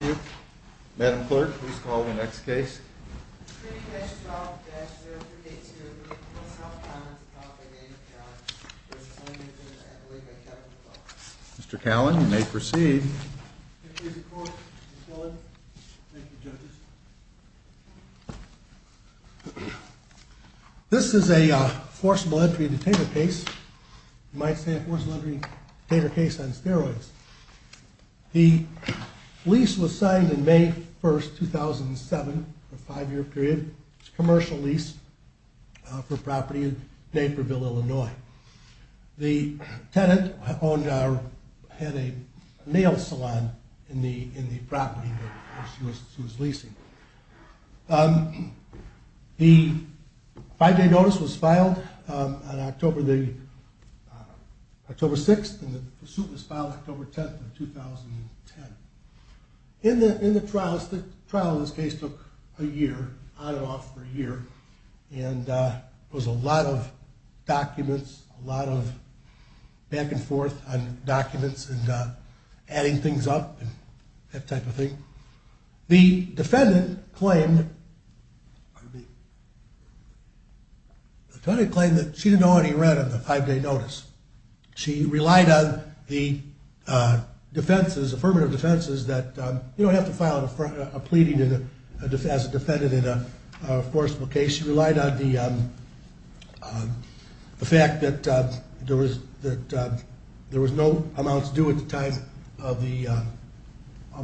Thank you. Madam Clerk, please call the next case. Nguyen V. South Commons v. Nguyen Mr. Callan, you may proceed. This is a forcible entry detainer case. You might say a forcible entry detainer case on steroids. The lease was signed in May 1st, 2007 for a five year period. It was a commercial lease for a property in Naperville, Illinois. The tenant had a nail salon in the property that she was leasing. The five day notice was filed on October 6th and the suit was filed October 10th, 2010. The trial in this case took a year, on and off for a year. There was a lot of documents, a lot of back and forth on documents and adding things up, that type of thing. The defendant claimed that she didn't owe any rent on the five day notice. She relied on the affirmative defenses that you don't have to file a pleading as a defendant in a forcible case. She relied on the fact that there was no amounts due at the time of the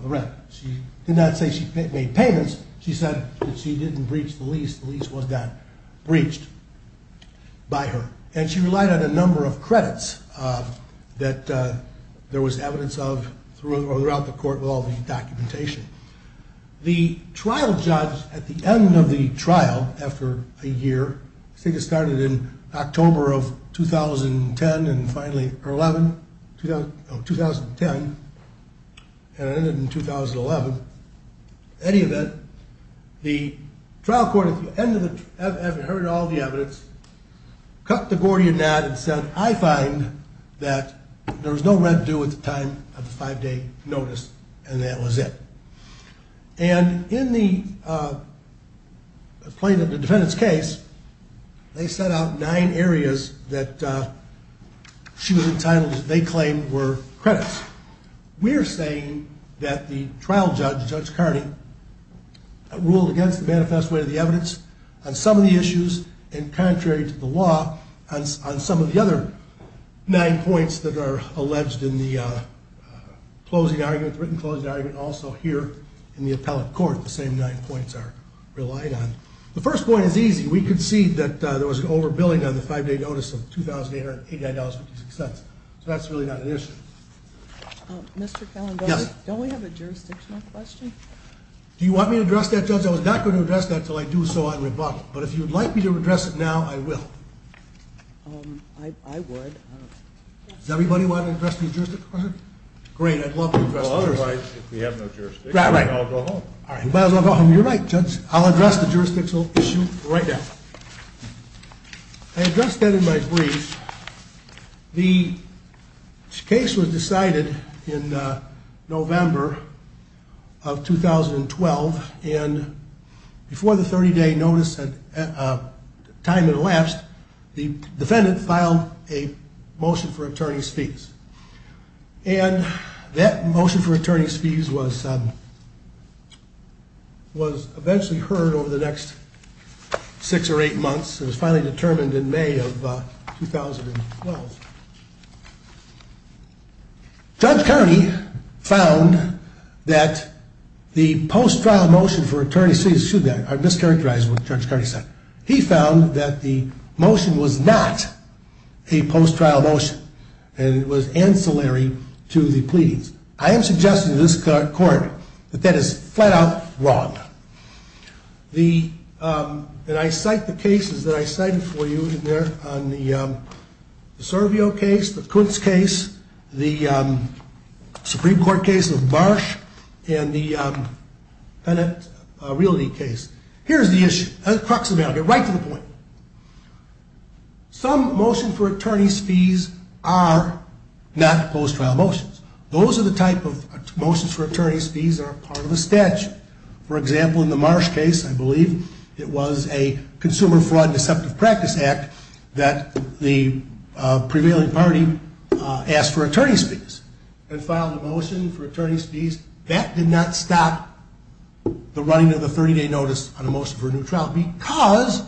rent. She did not say she made payments. She said that she didn't breach the lease. The lease was not breached by her. She relied on a number of credits that there was evidence of throughout the court with all the documentation. The trial judge, at the end of the trial, after a year, I think it started in October of 2010 and ended in 2011. In any event, the trial court at the end of the trial, after hearing all the evidence, cut the Gordian knot and said, I find that there was no rent due at the time of the five day notice. And that was it. And in the plaintiff, the defendant's case, they set out nine areas that she was entitled, they claimed, were credits. We're saying that the trial judge, Judge Carney, ruled against the manifest way of the evidence on some of the issues and contrary to the law on some of the other nine points that are alleged in the closing argument, written closing argument, also here in the appellate court, the same nine points are relied on. The first point is easy. We concede that there was an overbilling on the five day notice of $2,889.56. So that's really not an issue. Mr. Calendari, don't we have a jurisdictional question? Do you want me to address that, Judge? I was not going to address that until I do so on rebuttal. But if you would like me to address it now, I will. I would. Does everybody want to address the jurisdictional question? Great, I'd love to address it. If we have no jurisdiction, I'll go home. You might as well go home. You're right, Judge. I'll address the jurisdictional issue right now. I addressed that in my brief. The case was decided in November of 2012. And before the 30 day notice, time had elapsed. The defendant filed a motion for attorney's fees. And that motion for attorney's fees was eventually heard over the next six or eight months. It was finally determined in May of 2012. Judge Kearney found that the post-trial motion for attorney's fees, excuse me, I mischaracterized what Judge Kearney said. He found that the motion was not a post-trial motion. And it was ancillary to the pleadings. I am suggesting to this court that that is flat out wrong. And I cite the cases that I cited for you in there on the Servio case, the Kuntz case, the Supreme Court case of Marsh, and the Penitent Realty case. Here's the issue. The crux of the matter. Get right to the point. Some motions for attorney's fees are not post-trial motions. Those are the type of motions for attorney's fees that are part of a statute. For example, in the Marsh case, I believe, it was a consumer fraud and deceptive practice act that the prevailing party asked for attorney's fees. And filed a motion for attorney's fees. That did not stop the running of the 30 day notice on a motion for a new trial because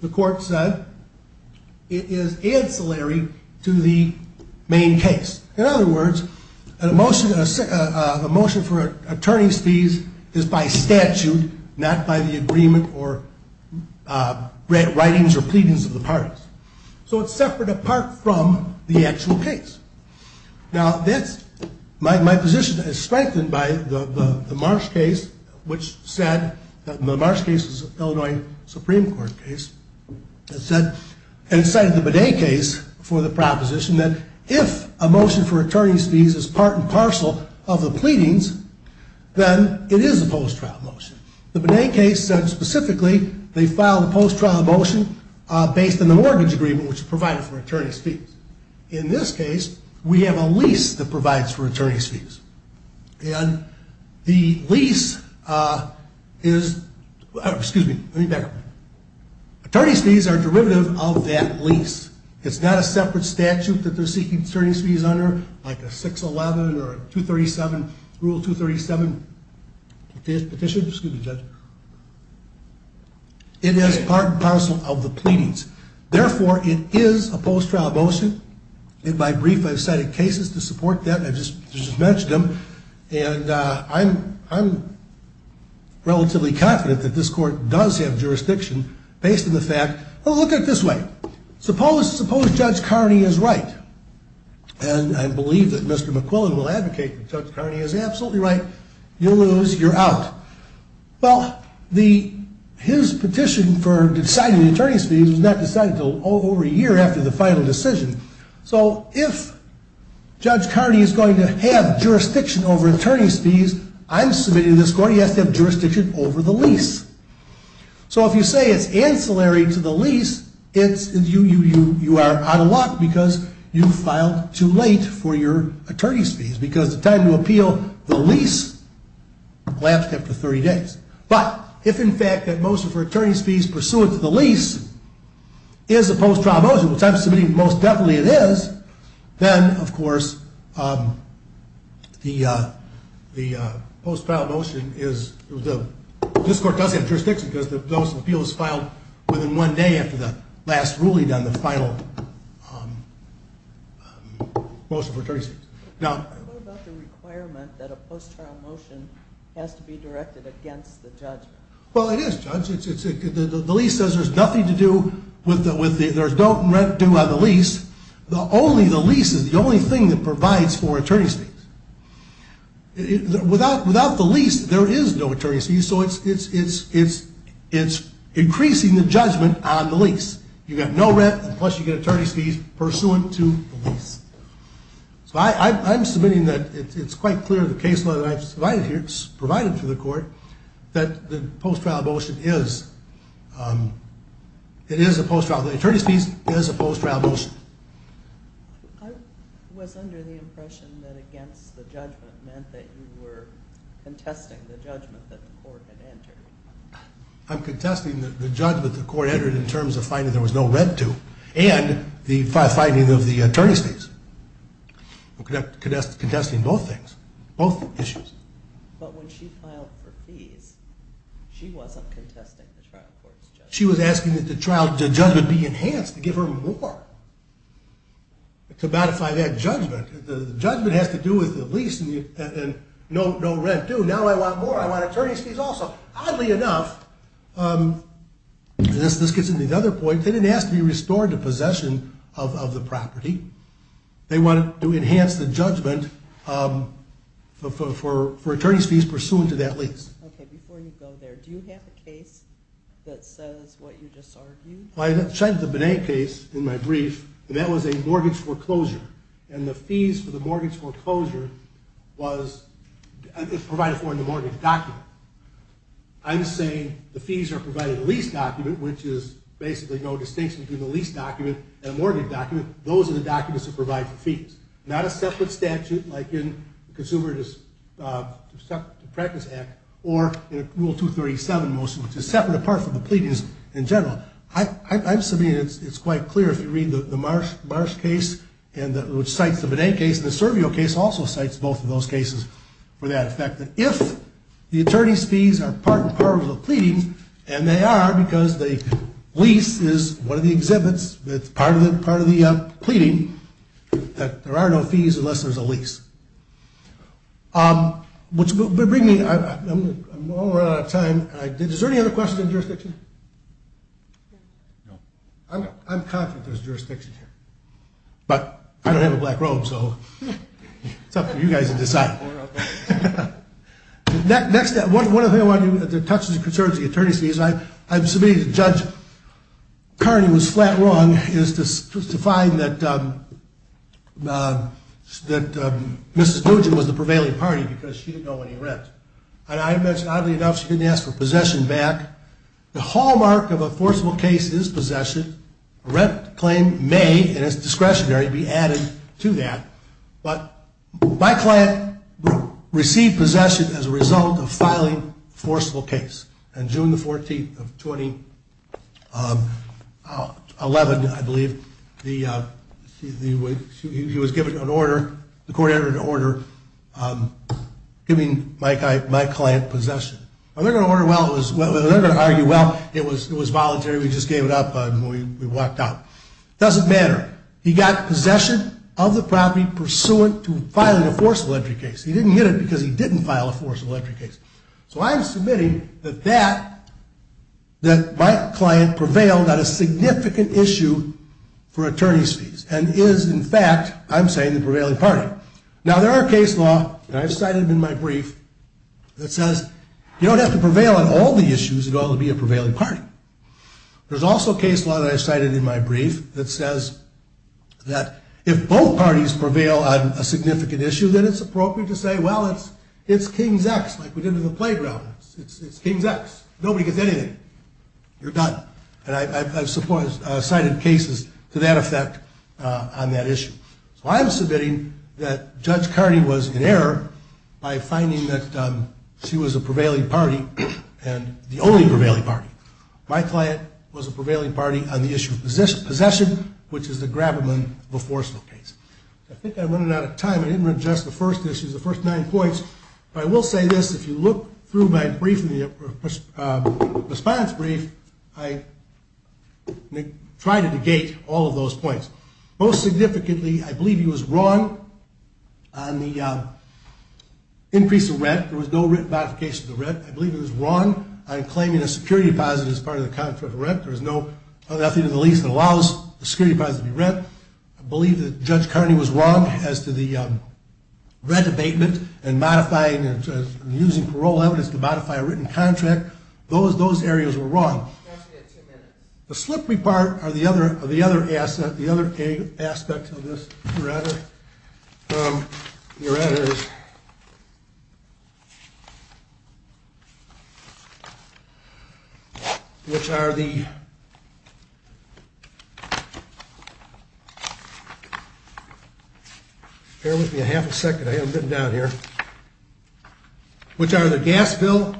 the court said it is ancillary to the main case. In other words, a motion for attorney's fees is by statute, not by the agreement or writings or pleadings of the parties. So it's separate apart from the actual case. Now, my position is strengthened by the Marsh case, which said that the Marsh case is an Illinois Supreme Court case, and cited the Bidet case for the proposition that if a motion for attorney's fees is part and parcel of the pleadings, then it is a post-trial motion. The Bidet case said specifically they filed a post-trial motion based on the mortgage agreement, which is provided for attorney's fees. In this case, we have a lease that provides for attorney's fees. And the lease is, excuse me, let me back up. Attorney's fees are derivative of that lease. It's not a separate statute that they're seeking attorney's fees under, like a 611 or Rule 237 petition. It is part and parcel of the pleadings. Therefore, it is a post-trial motion. And by brief, I've cited cases to support that. I've just mentioned them. And I'm relatively confident that this court does have jurisdiction based on the fact, well, look at it this way. Suppose Judge Carney is right. And I believe that Mr. McQuillan will advocate that Judge Carney is absolutely right. You lose, you're out. Well, his petition for deciding the attorney's fees was not decided until over a year after the final decision. So if Judge Carney is going to have jurisdiction over attorney's fees, I'm submitting to this court he has to have jurisdiction over the lease. So if you say it's ancillary to the lease, you are out of luck because you filed too late for your attorney's fees. Because the time to appeal the lease lapsed after 30 days. But if, in fact, that motion for attorney's fees pursuant to the lease is a post-trial motion, which I'm submitting most definitely it is, then, of course, the post-trial motion is, this court does have jurisdiction because the motion of appeal is filed within one day after the last ruling on the final motion for attorney's fees. What about the requirement that a post-trial motion has to be directed against the judge? Well, it is, Judge. The lease says there's nothing to do with there's no rent due on the lease. Only the lease is the only thing that provides for attorney's fees. Without the lease, there is no attorney's fees, so it's increasing the judgment on the lease. You get no rent, plus you get attorney's fees pursuant to the lease. So I'm submitting that it's quite clear in the case law that I've provided here, that the post-trial motion is, it is a post-trial, the attorney's fees is a post-trial motion. I was under the impression that against the judgment meant that you were contesting the judgment that the court had entered. I'm contesting the judgment the court entered in terms of finding there was no rent due and the finding of the attorney's fees. I'm contesting both things, both issues. But when she filed for fees, she wasn't contesting the trial court's judgment. She was asking that the trial judgment be enhanced to give her more to modify that judgment. The judgment has to do with the lease and no rent due. Now I want more. I want attorney's fees also. Oddly enough, this gets into another point, they didn't ask to be restored to possession of the property. They wanted to enhance the judgment for attorney's fees pursuant to that lease. Okay, before you go there, do you have a case that says what you just argued? I cited the Benet case in my brief, and that was a mortgage foreclosure. And the fees for the mortgage foreclosure was provided for in the mortgage document. I'm saying the fees are provided in the lease document, which is basically no distinction between the lease document and a mortgage document. Those are the documents that provide the fees. Not a separate statute like in the Consumer Justice Practice Act or Rule 237 motion, which is separate apart from the pleadings in general. I'm submitting it's quite clear if you read the Marsh case, which cites the Benet case, and the Servio case also cites both of those cases for that effect. If the attorney's fees are part and parcel of the pleadings, and they are because the lease is one of the exhibits, that's part of the pleading, that there are no fees unless there's a lease. I'm running out of time. Is there any other questions on jurisdiction? No. I'm confident there's jurisdiction here, but I don't have a black robe, so it's up to you guys to decide. One of the things I want to do to touch on the concerns of the attorney's fees, I'm submitting to Judge Carney was flat wrong to find that Mrs. Nugent was the prevailing party because she didn't owe any rent. And I imagine, oddly enough, she didn't ask for possession back. The hallmark of a forcible case is possession. Rent claim may, and it's discretionary, be added to that. But my client received possession as a result of filing a forceful case. On June the 14th of 2011, I believe, he was given an order. The court entered an order giving my client possession. They're going to argue, well, it was voluntary. We just gave it up and we walked out. It doesn't matter. He got possession of the property pursuant to filing a forcible entry case. He didn't get it because he didn't file a forcible entry case. So I'm submitting that my client prevailed on a significant issue for attorney's fees and is, in fact, I'm saying the prevailing party. Now, there are case law, and I've cited them in my brief, that says you don't have to prevail on all the issues in order to be a prevailing party. There's also case law that I cited in my brief that says that if both parties prevail on a significant issue, then it's appropriate to say, well, it's King's X, like we did in the playground. It's King's X. Nobody gets anything. You're done. And I've cited cases to that effect on that issue. So I'm submitting that Judge Carney was in error by finding that she was a prevailing party and the only prevailing party. My client was a prevailing party on the issue of possession, which is the Grabberman v. Forcible case. I think I'm running out of time. I didn't read just the first issues, the first nine points. But I will say this. If you look through my response brief, I try to negate all of those points. Most significantly, I believe he was wrong on the increase of rent. There was no written modification of the rent. I believe he was wrong on claiming a security deposit as part of the contract of rent. There is nothing in the lease that allows the security deposit to be rent. I believe that Judge Carney was wrong as to the rent abatement and modifying and using parole evidence to modify a written contract. Those areas were wrong. The slippery part are the other aspects of this. Which are the gas bill,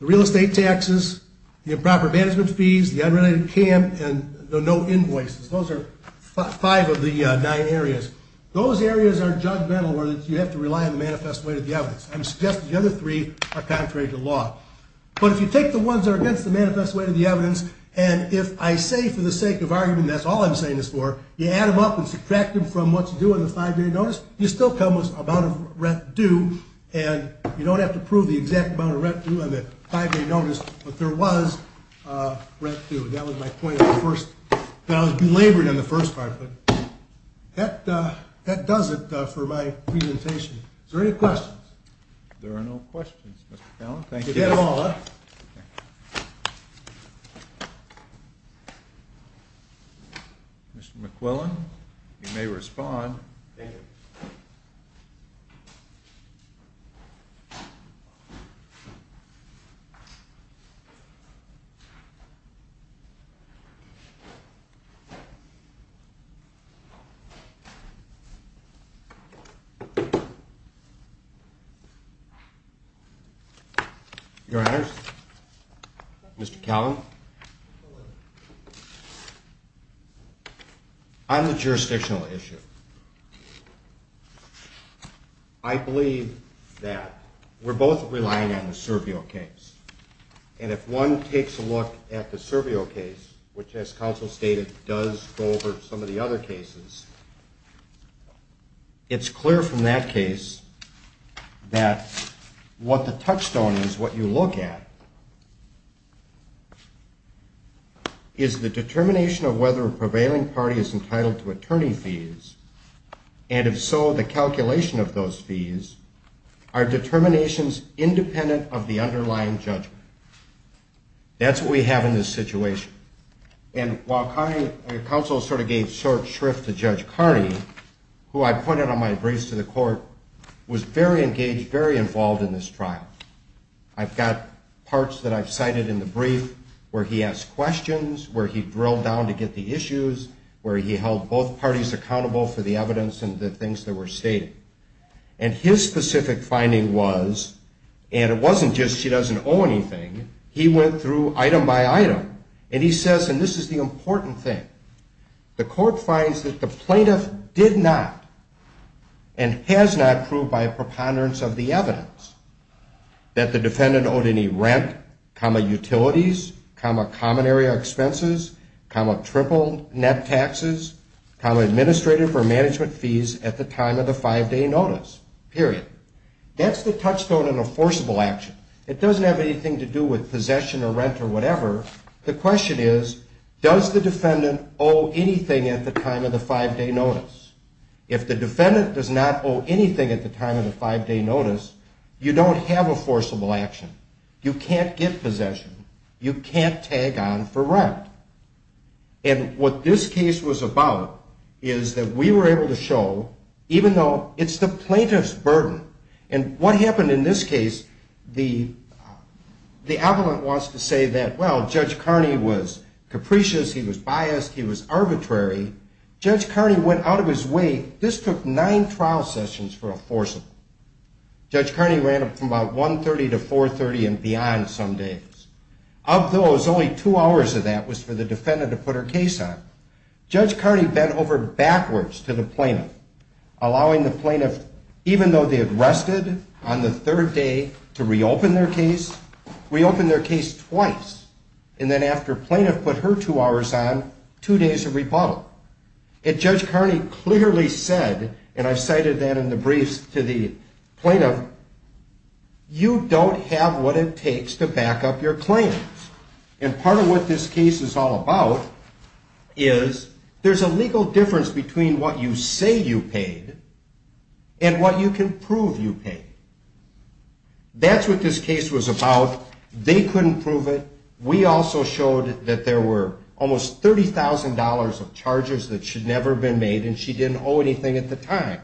the real estate taxes, the improper management fees, the unrelated CAM, and the no invoices. Those are five of the nine areas. Those areas are judgmental where you have to rely on the manifest way to the evidence. I'm suggesting the other three are contrary to law. But if you take the ones that are against the manifest way to the evidence, and if I say for the sake of argument that's all I'm saying this for, you add them up and subtract them from what you do on the five-day notice, you still come with an amount of rent due. And you don't have to prove the exact amount of rent due on the five-day notice, but there was rent due. That was my point on the first, that I was belaboring on the first part. But that does it for my presentation. Is there any questions? There are no questions, Mr. Fallon. Thank you. Mr. McQuillan, you may respond. Thank you. Your Honors, Mr. Callan. On the jurisdictional issue, I believe that we're both relying on the Servio case. And if one takes a look at the Servio case, which as counsel stated, does go over some of the other cases, it's clear from that case that what the touchstone is, what you look at, is the determination of whether a prevailing party is entitled to attorney fees, and if so, the calculation of those fees are determinations independent of the underlying judgment. That's what we have in this situation. And while counsel sort of gave short shrift to Judge Carney, who I pointed on my briefs to the court, was very engaged, very involved in this trial. I've got parts that I've cited in the brief where he asked questions, where he drilled down to get the issues, where he held both parties accountable for the evidence and the things that were stated. And his specific finding was, and it wasn't just she doesn't owe anything, he went through item by item, and he says, and this is the important thing, the court finds that the plaintiff did not and has not proved by a preponderance of the evidence that the defendant owed any rent, utilities, comma, common area expenses, comma, triple net taxes, comma, administrative or management fees at the time of the five-day notice, period. That's the touchstone in a forcible action. It doesn't have anything to do with possession or rent or whatever. The question is, does the defendant owe anything at the time of the five-day notice? If the defendant does not owe anything at the time of the five-day notice, you don't have a forcible action. You can't get possession. You can't tag on for rent. And what this case was about is that we were able to show, even though it's the plaintiff's burden, and what happened in this case, the appellant wants to say that, well, Judge Carney was capricious, he was biased, he was arbitrary. Judge Carney went out of his way. This took nine trial sessions for a forcible. Judge Carney ran from about 1.30 to 4.30 and beyond some days. Of those, only two hours of that was for the defendant to put her case on. Judge Carney bent over backwards to the plaintiff, allowing the plaintiff, even though they had rested on the third day, to reopen their case. Reopen their case twice. And then after plaintiff put her two hours on, two days of rebuttal. And Judge Carney clearly said, and I've cited that in the briefs to the plaintiff, you don't have what it takes to back up your claims. And part of what this case is all about is there's a legal difference between what you say you paid and what you can prove you paid. That's what this case was about. They couldn't prove it. We also showed that there were almost $30,000 of charges that should never have been made and she didn't owe anything at the time.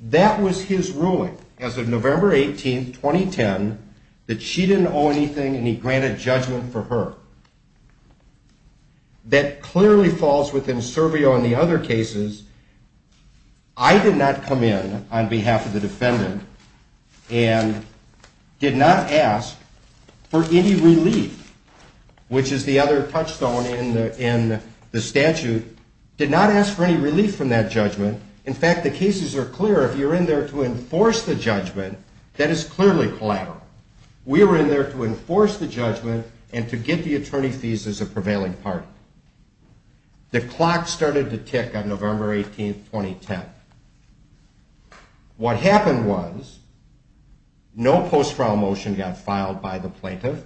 That was his ruling as of November 18, 2010, that she didn't owe anything and he granted judgment for her. That clearly falls within Servio and the other cases. I did not come in on behalf of the defendant and did not ask for any relief, which is the other touchstone in the statute. Did not ask for any relief from that judgment. In fact, the cases are clear. If you're in there to enforce the judgment, that is clearly collateral. We were in there to enforce the judgment and to get the attorney's thesis a prevailing party. The clock started to tick on November 18, 2010. What happened was no post-trial motion got filed by the plaintiff.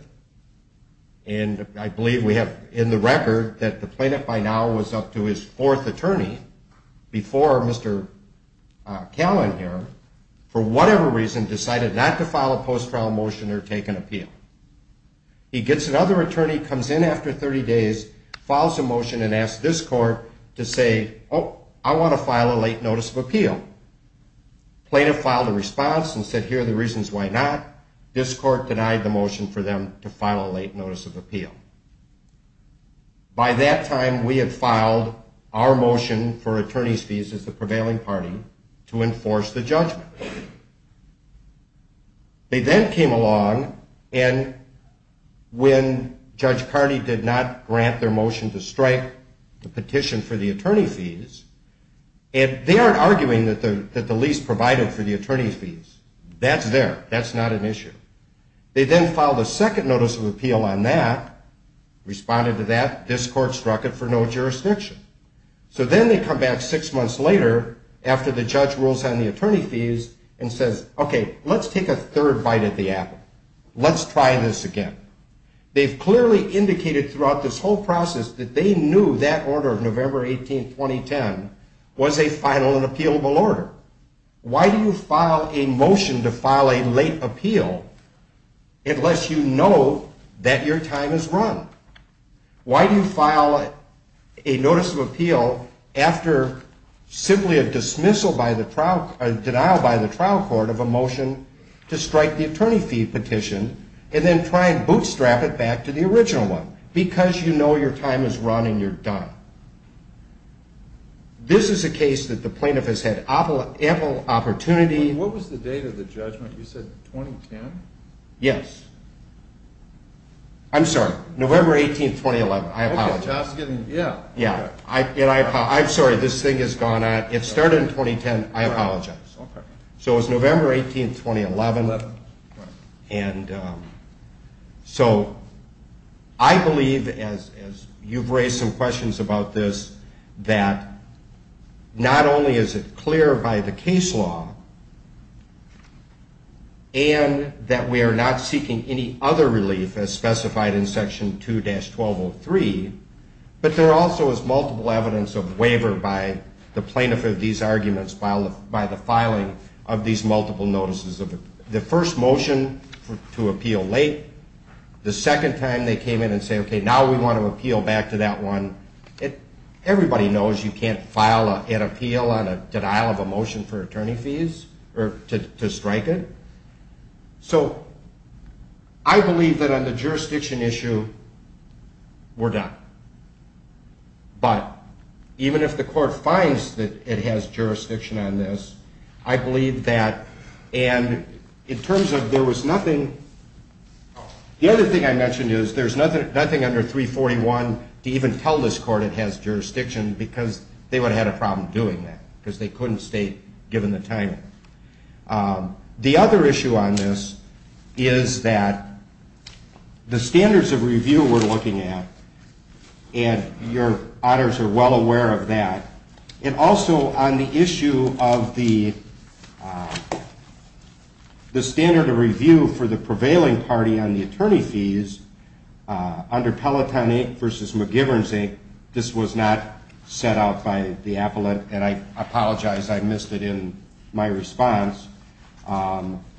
And I believe we have in the record that the plaintiff by now was up to his fourth attorney before Mr. Callan here, for whatever reason, decided not to file a post-trial motion or take an appeal. He gets another attorney, comes in after 30 days, files a motion and asks this court to say, oh, I want to file a late notice of appeal. Plaintiff filed a response and said, here are the reasons why not. This court denied the motion for them to file a late notice of appeal. By that time, we had filed our motion for attorney's thesis, the prevailing party, to enforce the judgment. They then came along and when Judge Carney did not grant their motion to strike the petition for the attorney's thesis, and they aren't arguing that the lease provided for the attorney's thesis. That's there. That's not an issue. They then filed a second notice of appeal on that, responded to that. This court struck it for no jurisdiction. So then they come back six months later after the judge rules on the attorney's thesis and says, okay, let's take a third bite at the apple. Let's try this again. They've clearly indicated throughout this whole process that they knew that order of November 18, 2010, was a final and appealable order. Why do you file a motion to file a late appeal unless you know that your time is run? Why do you file a notice of appeal after simply a dismissal by the trial, a denial by the trial court of a motion to strike the attorney fee petition and then try and bootstrap it back to the original one because you know your time is run and you're done? This is a case that the plaintiff has had ample opportunity. What was the date of the judgment? You said 2010? Yes. I'm sorry, November 18, 2011. I apologize. Okay. Yeah. Yeah. I'm sorry. This thing has gone on. It started in 2010. I apologize. Okay. So it was November 18, 2011, and so I believe, as you've raised some questions about this, that not only is it clear by the case law and that we are not seeking any other relief as specified in Section 2-1203, but there also is multiple evidence of waiver by the plaintiff of these arguments by the filing of these multiple notices. The first motion to appeal late, the second time they came in and said, okay, now we want to appeal back to that one. Everybody knows you can't file an appeal on a denial of a motion for attorney fees or to strike it. So I believe that on the jurisdiction issue, we're done. But even if the court finds that it has jurisdiction on this, I believe that. And in terms of there was nothing, the other thing I mentioned is there's nothing under 341 to even tell this court it has jurisdiction because they would have had a problem doing that because they couldn't state, given the timing. The other issue on this is that the standards of review we're looking at, and your auditors are well aware of that, and also on the issue of the standard of review for the prevailing party on the attorney fees, under Peloton 8 v. McGiverns 8, this was not set out by the appellate, and I apologize, I missed it in my response.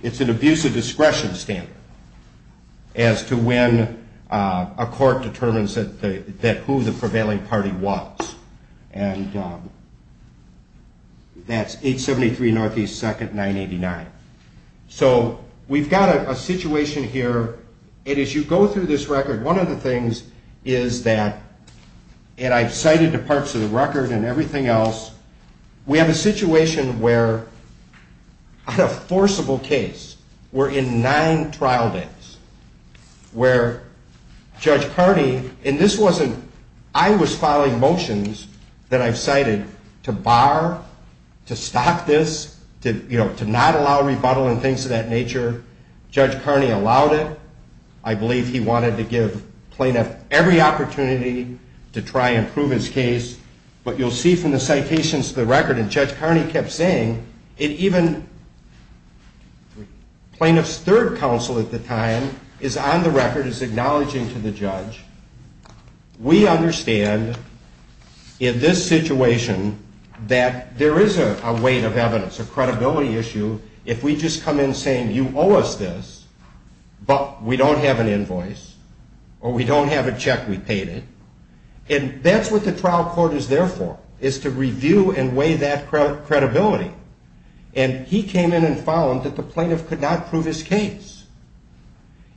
It's an abuse of discretion standard as to when a court determines who the prevailing party was. And that's 873 NE 2nd 989. So we've got a situation here. And as you go through this record, one of the things is that, and I've cited the parts of the record and everything else, we have a situation where on a forcible case, we're in nine trial days, where Judge Carney, and this wasn't, I was filing motions that I've cited to bar, to stop this, to not allow rebuttal and things of that nature. Judge Carney allowed it. I believe he wanted to give plaintiff every opportunity to try and prove his case. But you'll see from the citations to the record, and Judge Carney kept saying, and even plaintiff's third counsel at the time is on the record, is acknowledging to the judge. We understand in this situation that there is a weight of evidence, a credibility issue, if we just come in saying you owe us this, but we don't have an invoice, or we don't have a check we paid it. And that's what the trial court is there for, is to review and weigh that credibility. And he came in and found that the plaintiff could not prove his case.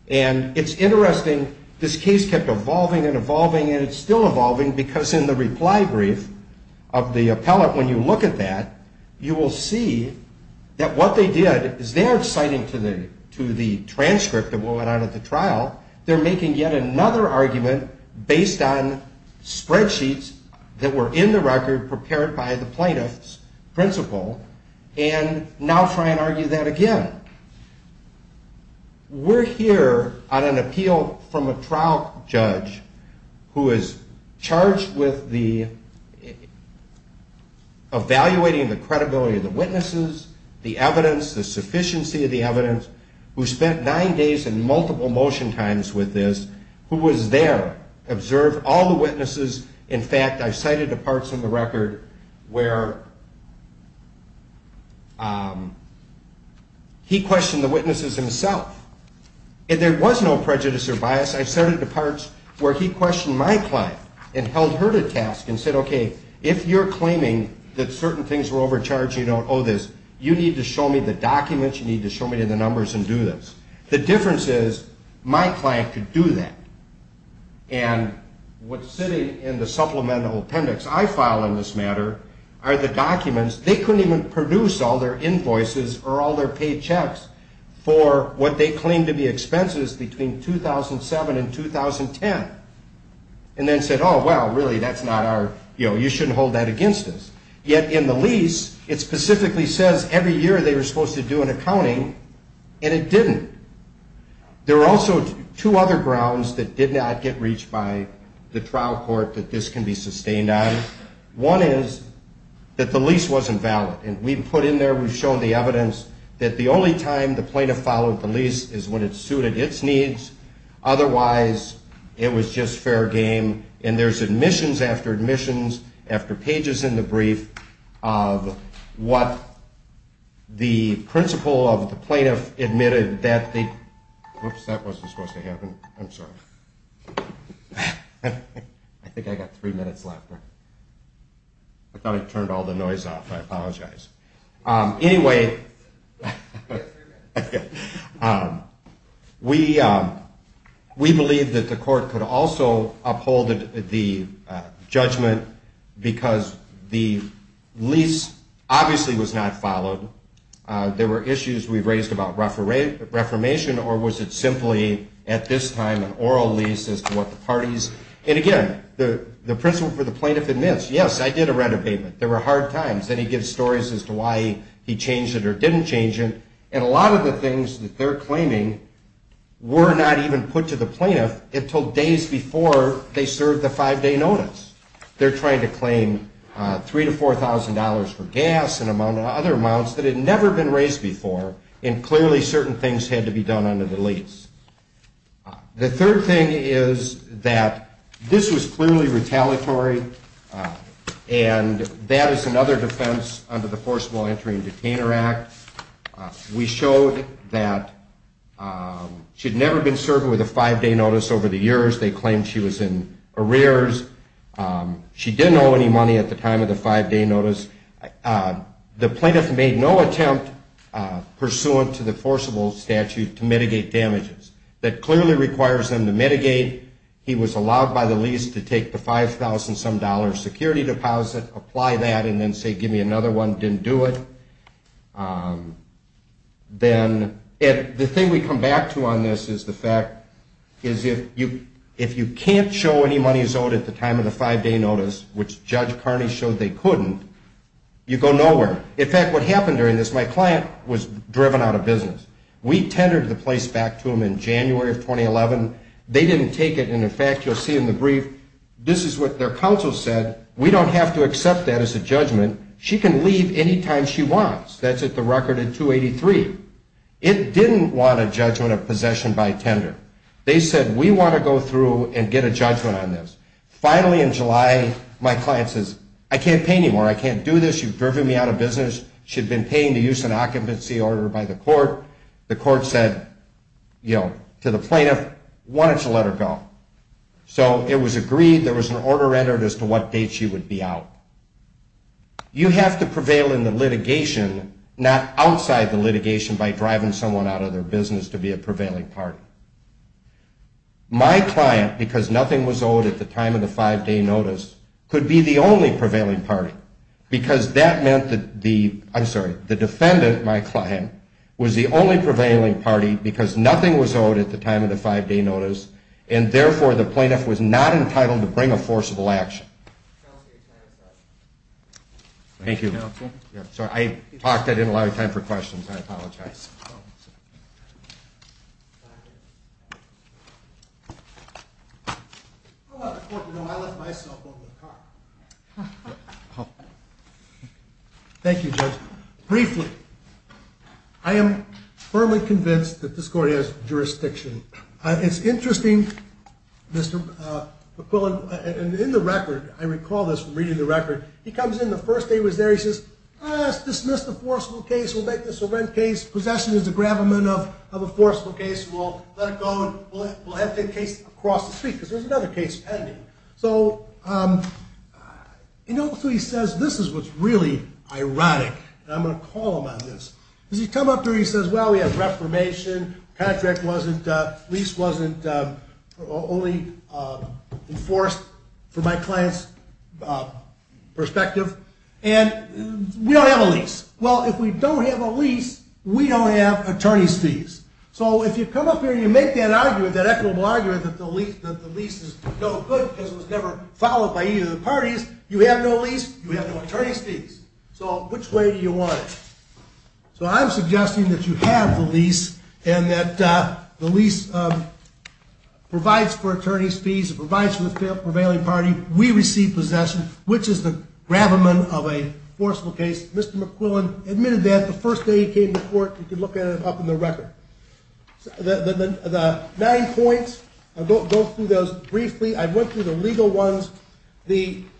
And it's interesting, this case kept evolving and evolving, and it's still evolving, because in the reply brief of the appellate, when you look at that, you will see that what they did is they're citing to the transcript of what went on at the trial, they're making yet another argument based on spreadsheets that were in the record prepared by the plaintiff's principal, and now try and argue that again. We're here on an appeal from a trial judge who is charged with evaluating the credibility of the witnesses, the evidence, the sufficiency of the evidence, who spent nine days and multiple motion times with this, who was there, observed all the witnesses. In fact, I cited the parts of the record where he questioned the witnesses himself. And there was no prejudice or bias. I cited the parts where he questioned my client and held her to task and said, okay, if you're claiming that certain things were overcharged, you don't owe this, you need to show me the documents, you need to show me the numbers and do this. The difference is my client could do that. And what's sitting in the supplemental appendix I filed in this matter are the documents. They couldn't even produce all their invoices or all their paid checks for what they claimed to be expenses between 2007 and 2010. And then said, oh, well, really, that's not our, you know, you shouldn't hold that against us. Yet in the lease, it specifically says every year they were supposed to do an accounting, and it didn't. There are also two other grounds that did not get reached by the trial court that this can be sustained on. One is that the lease wasn't valid. And we put in there, we've shown the evidence that the only time the plaintiff followed the lease is when it suited its needs. Otherwise, it was just fair game. And there's admissions after admissions after pages in the brief of what the principle of the plaintiff admitted that they, whoops, that wasn't supposed to happen. I'm sorry. I think I got three minutes left. I thought I turned all the noise off. I apologize. Anyway, we believe that the court could also uphold the judgment because the lease obviously was not followed. There were issues we've raised about reformation, or was it simply at this time an oral lease as to what the parties. And again, the principle for the plaintiff admits, yes, I did a rent abatement. There were hard times. Then he gives stories as to why he changed it or didn't change it. And a lot of the things that they're claiming were not even put to the plaintiff until days before they served the five-day notice. They're trying to claim $3,000 to $4,000 for gas and other amounts that had never been raised before, and clearly certain things had to be done under the lease. The third thing is that this was clearly retaliatory, and that is another defense under the Forcible Entry and Detainer Act. We showed that she had never been served with a five-day notice over the years. They claimed she was in arrears. She didn't owe any money at the time of the five-day notice. The plaintiff made no attempt pursuant to the forcible statute to mitigate damages. That clearly requires them to mitigate. He was allowed by the lease to take the $5,000-some security deposit, apply that, and then say, give me another one. Didn't do it. The thing we come back to on this is the fact is if you can't show any money is owed at the time of the five-day notice, which Judge Carney showed they couldn't, you go nowhere. In fact, what happened during this, my client was driven out of business. We tendered the place back to them in January of 2011. They didn't take it, and in fact, you'll see in the brief, this is what their counsel said. We don't have to accept that as a judgment. She can leave any time she wants. That's at the record at 283. It didn't want a judgment of possession by tender. They said, we want to go through and get a judgment on this. Finally, in July, my client says, I can't pay anymore. I can't do this. You've driven me out of business. She had been paying the use and occupancy order by the court. The court said, you know, to the plaintiff, why don't you let her go? So it was agreed. There was an order entered as to what date she would be out. You have to prevail in the litigation, not outside the litigation, by driving someone out of their business to be a prevailing party. My client, because nothing was owed at the time of the five-day notice, could be the only prevailing party, because that meant that the defendant, my client, was the only prevailing party, because nothing was owed at the time of the five-day notice, and therefore the plaintiff was not entitled to bring a forcible action. Thank you. I talked. I didn't allow you time for questions. I apologize. How about the court, you know, I left my cell phone in the car. Thank you, Judge. Briefly, I am firmly convinced that this court has jurisdiction. It's interesting, Mr. McQuillan, and in the record, I recall this from reading the record, he comes in the first day he was there. He says, let's dismiss the forcible case. We'll make this a rent case. Possession is a gravamen of a forcible case. We'll let it go, and we'll have the case across the street, because there's another case pending. So, you know, so he says, this is what's really ironic, and I'm going to call him on this. As he comes up to her, he says, well, we have reformation. Contract wasn't, lease wasn't only enforced from my client's perspective, and we don't have a lease. Well, if we don't have a lease, we don't have attorney's fees. So if you come up here and you make that argument, that equitable argument that the lease is no good because it was never followed by either of the parties, you have no lease, you have no attorney's fees. So which way do you want it? So I'm suggesting that you have the lease and that the lease provides for attorney's fees, it provides for the prevailing party, we receive possession, which is the gravamen of a forcible case. Mr. McQuillan admitted that the first day he came to court. You can look at it up in the record. The nine points, I'll go through those briefly. I went through the legal ones.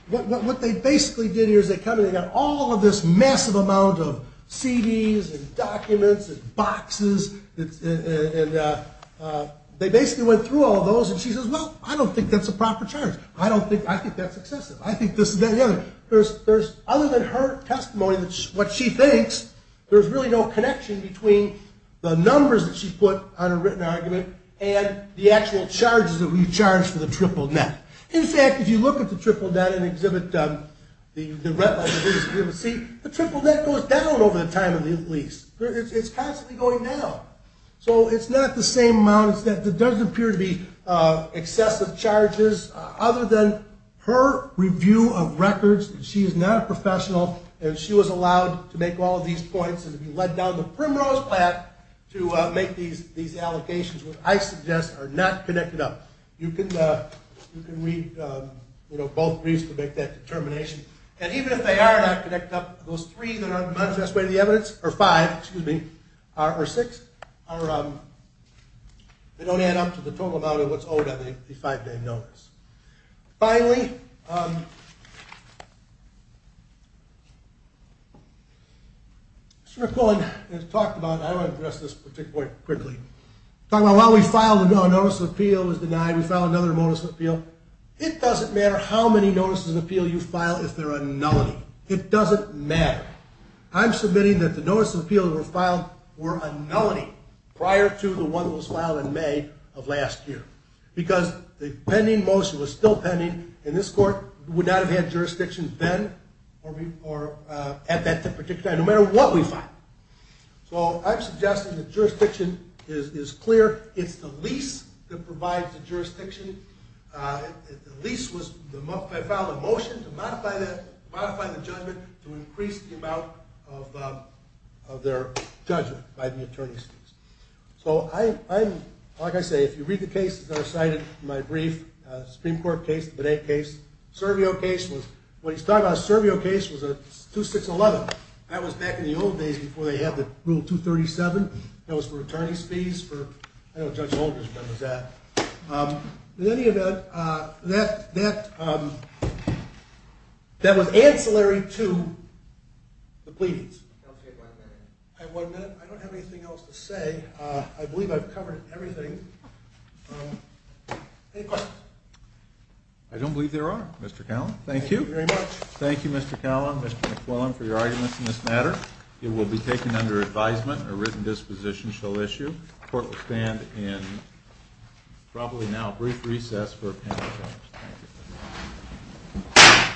What they basically did here is they come and they got all of this massive amount of CDs and documents and boxes, and they basically went through all of those, and she says, well, I don't think that's a proper charge. I think that's excessive. Other than her testimony, what she thinks, there's really no connection between the numbers that she put on a written argument and the actual charges that we charge for the triple net. In fact, if you look at the triple net and exhibit the red line, the triple net goes down over the time of the lease. It's constantly going down. So it's not the same amount. It does appear to be excessive charges. Other than her review of records, she is not a professional, and she was allowed to make all of these points and be led down the primrose path to make these allocations, which I suggest are not connected up. You can read both briefs to make that determination. And even if they are not connected up, those three that are manifest way to the evidence, or five, excuse me, or six, they don't add up to the total amount of what's owed on the five-day notice. Finally, Mr. McClellan has talked about, I want to address this point quickly, while we filed a notice of appeal, it was denied, we filed another notice of appeal, it doesn't matter how many notices of appeal you file if they're a nullity. It doesn't matter. I'm submitting that the notices of appeal that were filed were a nullity prior to the one that was filed in May of last year. Because the pending motion was still pending, and this court would not have had jurisdiction then or at that particular time, no matter what we filed. So I'm suggesting that jurisdiction is clear. It's the lease that provides the jurisdiction. The lease was, I filed a motion to modify the judgment to increase the amount of their judgment by the attorney's fees. So I'm, like I say, if you read the cases that are cited in my brief, Supreme Court case, the Benet case, Servio case was, when he's talking about a Servio case, was a 2611. That was back in the old days before they had the Rule 237. That was for attorney's fees. I don't know what Judge Holdren's gun was at. In any event, that was ancillary to the pleadings. I have one minute. I don't have anything else to say. I believe I've covered everything. Any questions? I don't believe there are, Mr. Callum. Thank you. Thank you very much. Thank you, Mr. Callum, Mr. McClellan, for your arguments in this matter. It will be taken under advisement. A written disposition shall issue. The court will stand in probably now brief recess for a panel discussion. Thank you.